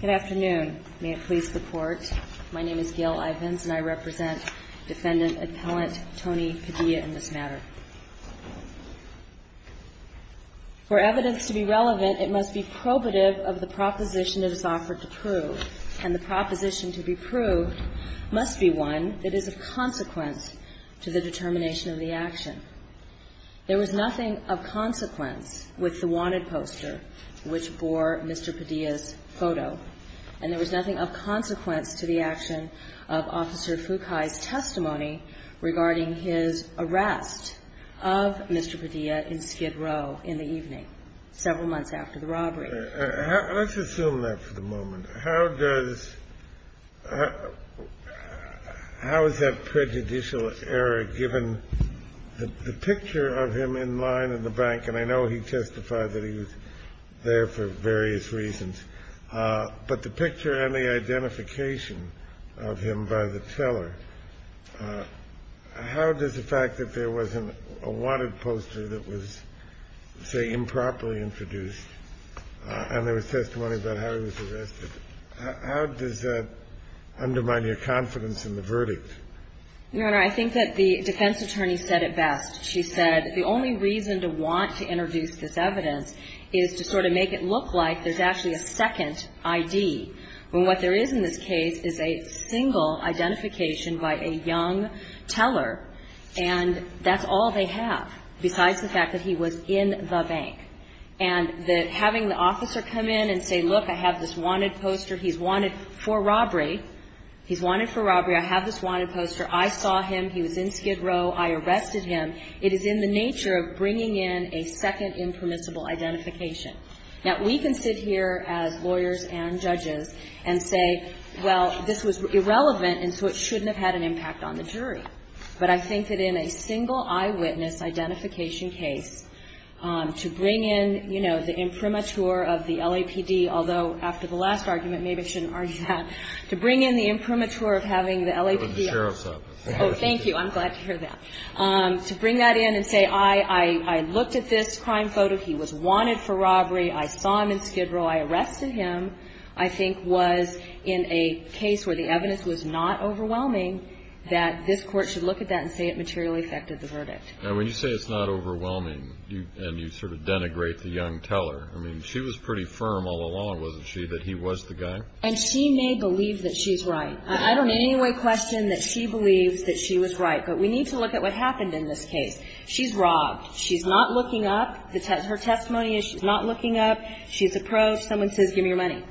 Good afternoon. May it please the Court, my name is Gail Ivins and I represent Defendant Appellant Tony Padilla in this matter. For evidence to be relevant, it must be probative of the proposition that is offered to prove. And the proposition to be proved must be one that is of consequence to the determination of the action. There was nothing of consequence with the wanted poster which bore Mr. Padilla's photo. And there was nothing of consequence to the action of Officer Fukai's testimony regarding his arrest of Mr. Padilla in Skid Row in the evening, several months after the robbery. Let's assume that for the moment. How does how is that prejudicial error given the picture of him in line in the bank? And I know he testified that he was there for various reasons, but the picture and the identification of him by the teller. How does the fact that there was a wanted poster that was, say, improperly introduced, and there was testimony about how he was arrested, how does that undermine your confidence in the verdict? Your Honor, I think that the defense attorney said it best. She said the only reason to want to introduce this evidence is to sort of make it look like there's actually a second ID. When what there is in this case is a single identification by a young teller, and that's all they have, besides the fact that he was in the bank. And that having the officer come in and say, look, I have this wanted poster. He's wanted for robbery. He's wanted for robbery. I have this wanted poster. I saw him. He was in Skid Row. I arrested him. It is in the nature of bringing in a second impermissible identification. Now, we can sit here as lawyers and judges and say, well, this was irrelevant, and so it shouldn't have had an impact on the jury. But I think that in a single eyewitness identification case, to bring in, you know, the imprimatur of the LAPD, although after the last argument maybe I shouldn't argue that. To bring in the imprimatur of having the LAPD. The sheriff's office. Oh, thank you. I'm glad to hear that. To bring that in and say, I looked at this crime photo. He was wanted for robbery. I saw him in Skid Row. I arrested him, I think was in a case where the evidence was not overwhelming, that this court should look at that and say it materially affected the verdict. Now, when you say it's not overwhelming and you sort of denigrate the young teller, I mean, she was pretty firm all along, wasn't she, that he was the guy? And she may believe that she's right. I don't in any way question that she believes that she was right. But we need to look at what happened in this case. She's robbed. She's not looking up. Her testimony is she's not looking up. She's approached. Someone says, give me your money.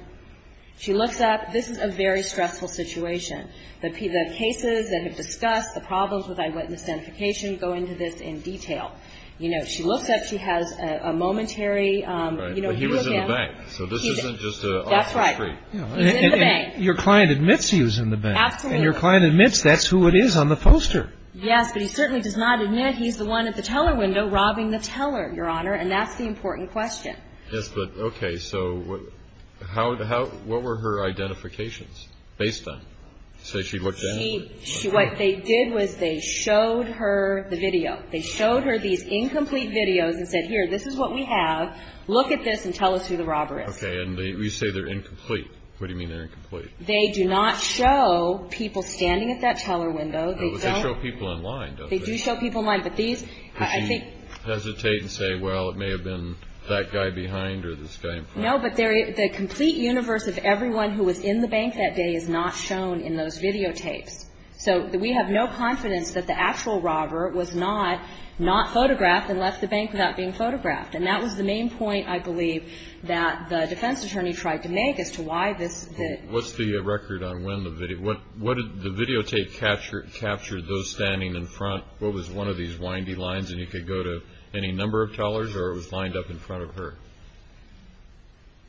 She looks up. This is a very stressful situation. The cases that have discussed the problems with eyewitness identification go into this in detail. You know, she looks up. She has a momentary, you know, he was in the bank. So this isn't just an off the street. That's right. He's in the bank. Your client admits he was in the bank. Absolutely. And your client admits that's who it is on the poster. Yes. But he certainly does not admit he's the one at the teller window robbing the teller, Your Honor. And that's the important question. Okay. So what were her identifications based on? So she looked down? What they did was they showed her the video. They showed her these incomplete videos and said, here, this is what we have. Look at this and tell us who the robber is. Okay. And you say they're incomplete. What do you mean they're incomplete? They do not show people standing at that teller window. But they show people in line, don't they? They do show people in line. But these, I think. Did she hesitate and say, well, it may have been that guy behind or this guy in front? No, but the complete universe of everyone who was in the bank that day is not shown in those videotapes. So we have no confidence that the actual robber was not photographed and left the bank without being photographed. And that was the main point, I believe, that the defense attorney tried to make as to why this. What's the record on when the video? What did the videotape capture those standing in front? What was one of these windy lines? And it could go to any number of tellers or it was lined up in front of her?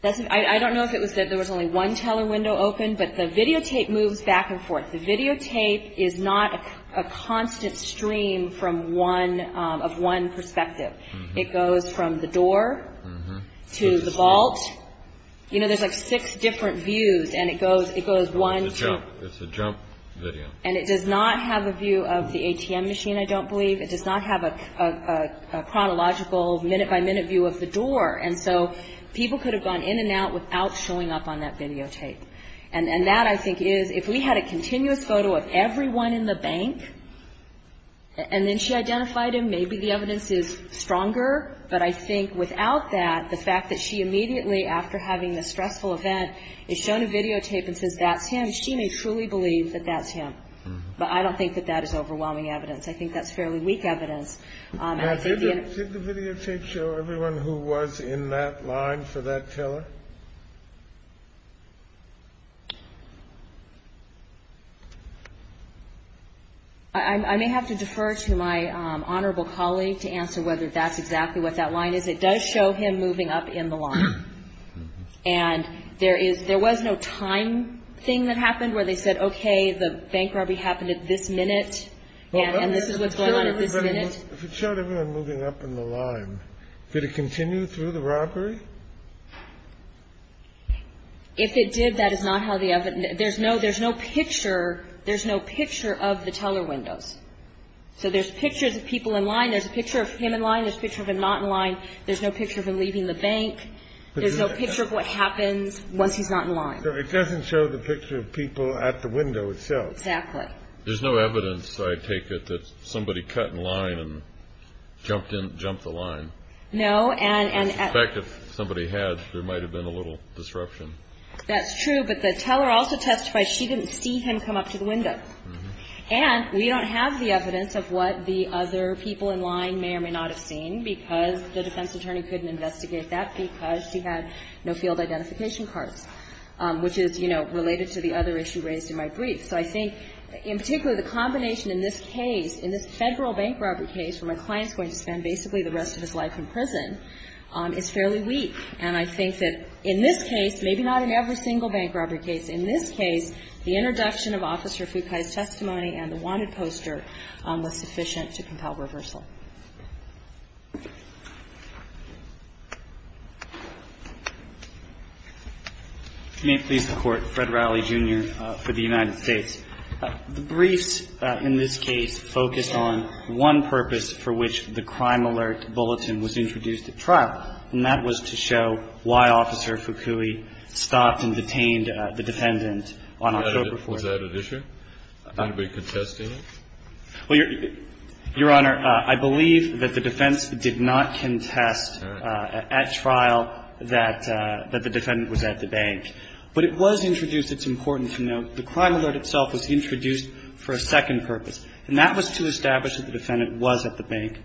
I don't know if it was that there was only one teller window open, but the videotape moves back and forth. The videotape is not a constant stream of one perspective. It goes from the door to the vault. You know, there's like six different views, and it goes one, two. It's a jump video. And it does not have a view of the ATM machine, I don't believe. It does not have a chronological minute-by-minute view of the door. And so people could have gone in and out without showing up on that videotape. And that, I think, is if we had a continuous photo of everyone in the bank and then she identified him, maybe the evidence is stronger. But I think without that, the fact that she immediately, after having this stressful event, is shown a videotape and says that's him, she may truly believe that that's him. But I don't think that that is overwhelming evidence. I think that's fairly weak evidence. Did the videotape show everyone who was in that line for that teller? I may have to defer to my honorable colleague to answer whether that's exactly what that line is. It does show him moving up in the line. And there is no time thing that happened where they said, okay, the bank robbery happened at this minute, and this is what's going on at this minute. If it showed everyone moving up in the line, did it continue through the robbery? If it did, that is not how the evidence ñ there's no picture. There's no picture of the teller windows. So there's pictures of people in line. There's a picture of him in line. There's a picture of him not in line. There's no picture of him leaving the bank. There's no picture of what happens once he's not in line. So it doesn't show the picture of people at the window itself. Exactly. There's no evidence, I take it, that somebody cut in line and jumped the line. No. I suspect if somebody had, there might have been a little disruption. That's true. But the teller also testified she didn't see him come up to the window. And we don't have the evidence of what the other people in line may or may not have seen because the defense attorney couldn't investigate that because she had no field identification cards, which is, you know, related to the other issue raised in my brief. So I think in particular the combination in this case, in this Federal bank robbery case where my client's going to spend basically the rest of his life in prison, is fairly weak. And I think that in this case, maybe not in every single bank robbery case, in this case, the introduction of Officer Fukai's testimony and the wanted poster was sufficient to compel reversal. May it please the Court. Fred Riley, Jr. for the United States. The briefs in this case focused on one purpose for which the Crime Alert Bulletin was introduced at trial, and that was to show why Officer Fukui stopped and detained the dependent on October 4th. Was that an issue? Anybody contesting it? Well, Your Honor, I believe that the defense did not contest at trial that the defendant was at the bank. But it was introduced. It's important to note the Crime Alert itself was introduced for a second purpose, and that was to establish that the defendant was at the bank.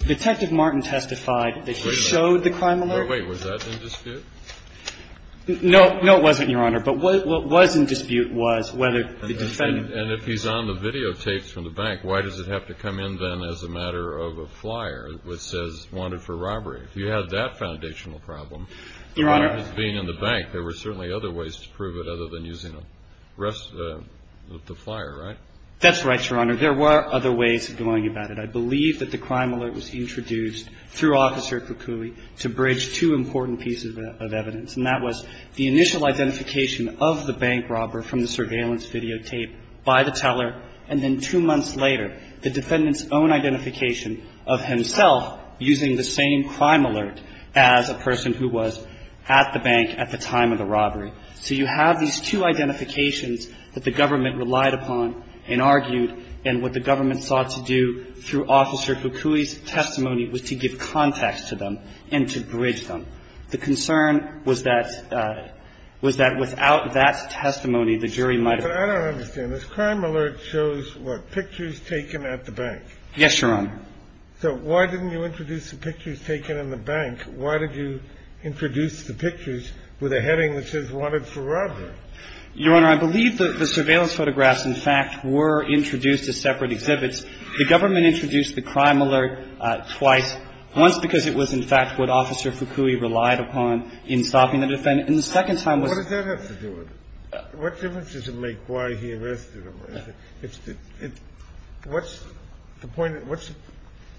Detective Martin testified that he showed the Crime Alert. Oh, wait. Was that in dispute? No. No, it wasn't, Your Honor. But what was in dispute was whether the defendant. And if he's on the videotapes from the bank, why does it have to come in then as a matter of a flyer which says wanted for robbery? If you had that foundational problem. Your Honor. As being in the bank, there were certainly other ways to prove it other than using the flyer, right? That's right, Your Honor. There were other ways of going about it. I believe that the Crime Alert was introduced through Officer Fukui to bridge two important pieces of evidence, and that was the initial identification of the bank robber from the surveillance videotape by the teller, and then two months later, the defendant's own identification of himself using the same Crime Alert as a person who was at the bank at the time of the robbery. So you have these two identifications that the government relied upon and argued, and what the government sought to do through Officer Fukui's testimony was to give context to them and to bridge them. The concern was that, was that without that testimony, the jury might have been. But I don't understand. This Crime Alert shows what? Pictures taken at the bank. Yes, Your Honor. So why didn't you introduce the pictures taken in the bank? Why did you introduce the pictures with a heading that says wanted for robbery? Your Honor, I believe the surveillance photographs, in fact, were introduced as separate exhibits. The government introduced the Crime Alert twice, once because it was, in fact, what Officer Fukui relied upon in stopping the defendant, and the second time was. What does that have to do with it? What difference does it make why he arrested him? What's the point?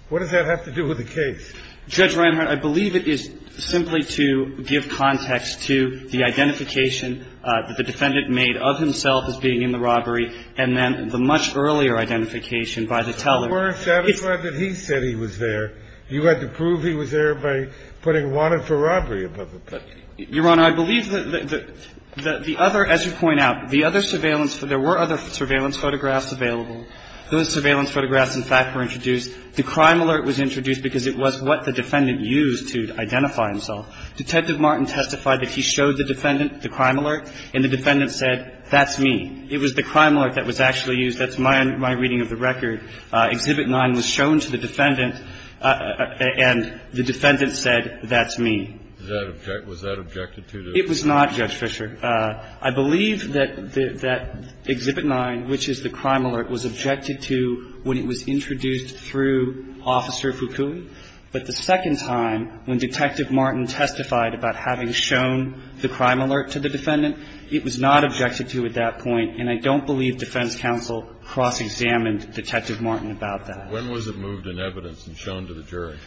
What does that have to do with the case? Judge Reinhart, I believe it is simply to give context to the identification that the defendant made of himself as being in the robbery, and then the much earlier identification by the teller. But you weren't satisfied that he said he was there. You had to prove he was there by putting wanted for robbery above the picture. Your Honor, I believe that the other, as you point out, the other surveillance photographs, there were other surveillance photographs available. Those surveillance photographs, in fact, were introduced. The Crime Alert was introduced because it was what the defendant used to identify himself. Detective Martin testified that he showed the defendant the Crime Alert, and the defendant said, that's me. It was the Crime Alert that was actually used. That's my reading of the record. Exhibit 9 was shown to the defendant, and the defendant said, that's me. Was that objected to? It was not, Judge Fischer. I believe that Exhibit 9, which is the Crime Alert, was objected to when it was introduced through Officer Fukui. But the second time, when Detective Martin testified about having shown the Crime So I don't believe that that was the case at that point, and I don't believe defense counsel cross-examined Detective Martin about that. When was it moved in evidence and shown to the jury?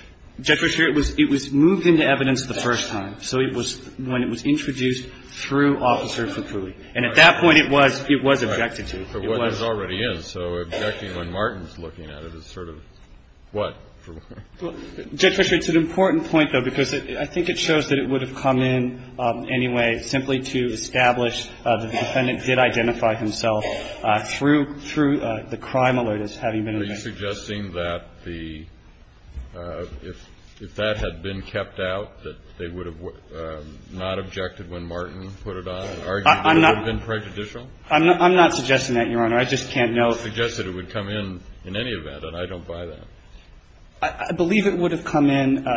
Judge Fischer, it was moved into evidence the first time. So it was when it was introduced through Officer Fukui. And at that point, it was objected to. It was. But it already is. So objecting when Martin's looking at it is sort of what? Judge Fischer, it's an important point, though, because I think it shows that it would have come in anyway simply to establish that the defendant did identify himself through the Crime Alert as having been in there. Are you suggesting that the – if that had been kept out, that they would have not objected when Martin put it on? I'm not – I'm not suggesting that, Your Honor. I just can't know. You suggested it would come in in any event, and I don't buy that. I believe it would have come in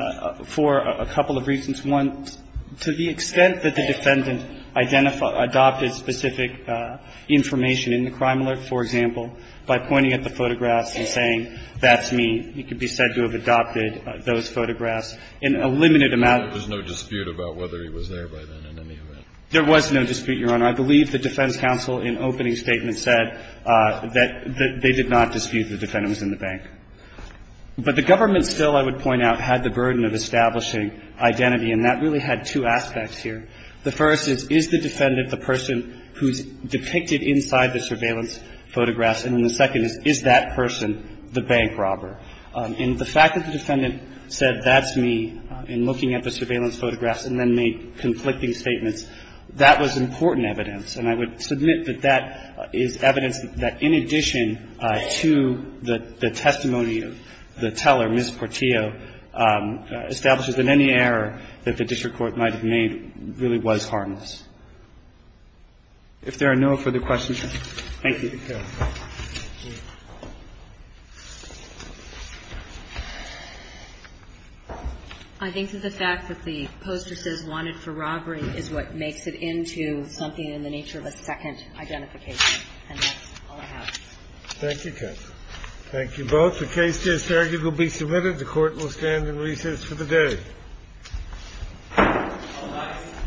for a couple of reasons. One, to the extent that the defendant identified – adopted specific information in the Crime Alert, for example, by pointing at the photographs and saying, that's me, he could be said to have adopted those photographs in a limited amount of time. There's no dispute about whether he was there by then in any event. There was no dispute, Your Honor. I believe the defense counsel in opening statement said that they did not dispute the defendant was in the bank. But the government still, I would point out, had the burden of establishing identity, and that really had two aspects here. The first is, is the defendant the person who's depicted inside the surveillance photographs? And then the second is, is that person the bank robber? And the fact that the defendant said, that's me, in looking at the surveillance photographs and then made conflicting statements, that was important evidence. And I would submit that that is evidence that in addition to the testimony of the teller, Ms. Portillo, establishes that any error that the district court might have made really was harmless. If there are no further questions, thank you. Thank you, counsel. I think that the fact that the poster says wanted for robbery is what makes it into something in the nature of a second identification. And that's all I have. Thank you, counsel. Thank you both. The case is here. It will be submitted. The Court will stand in recess for the day. All rise.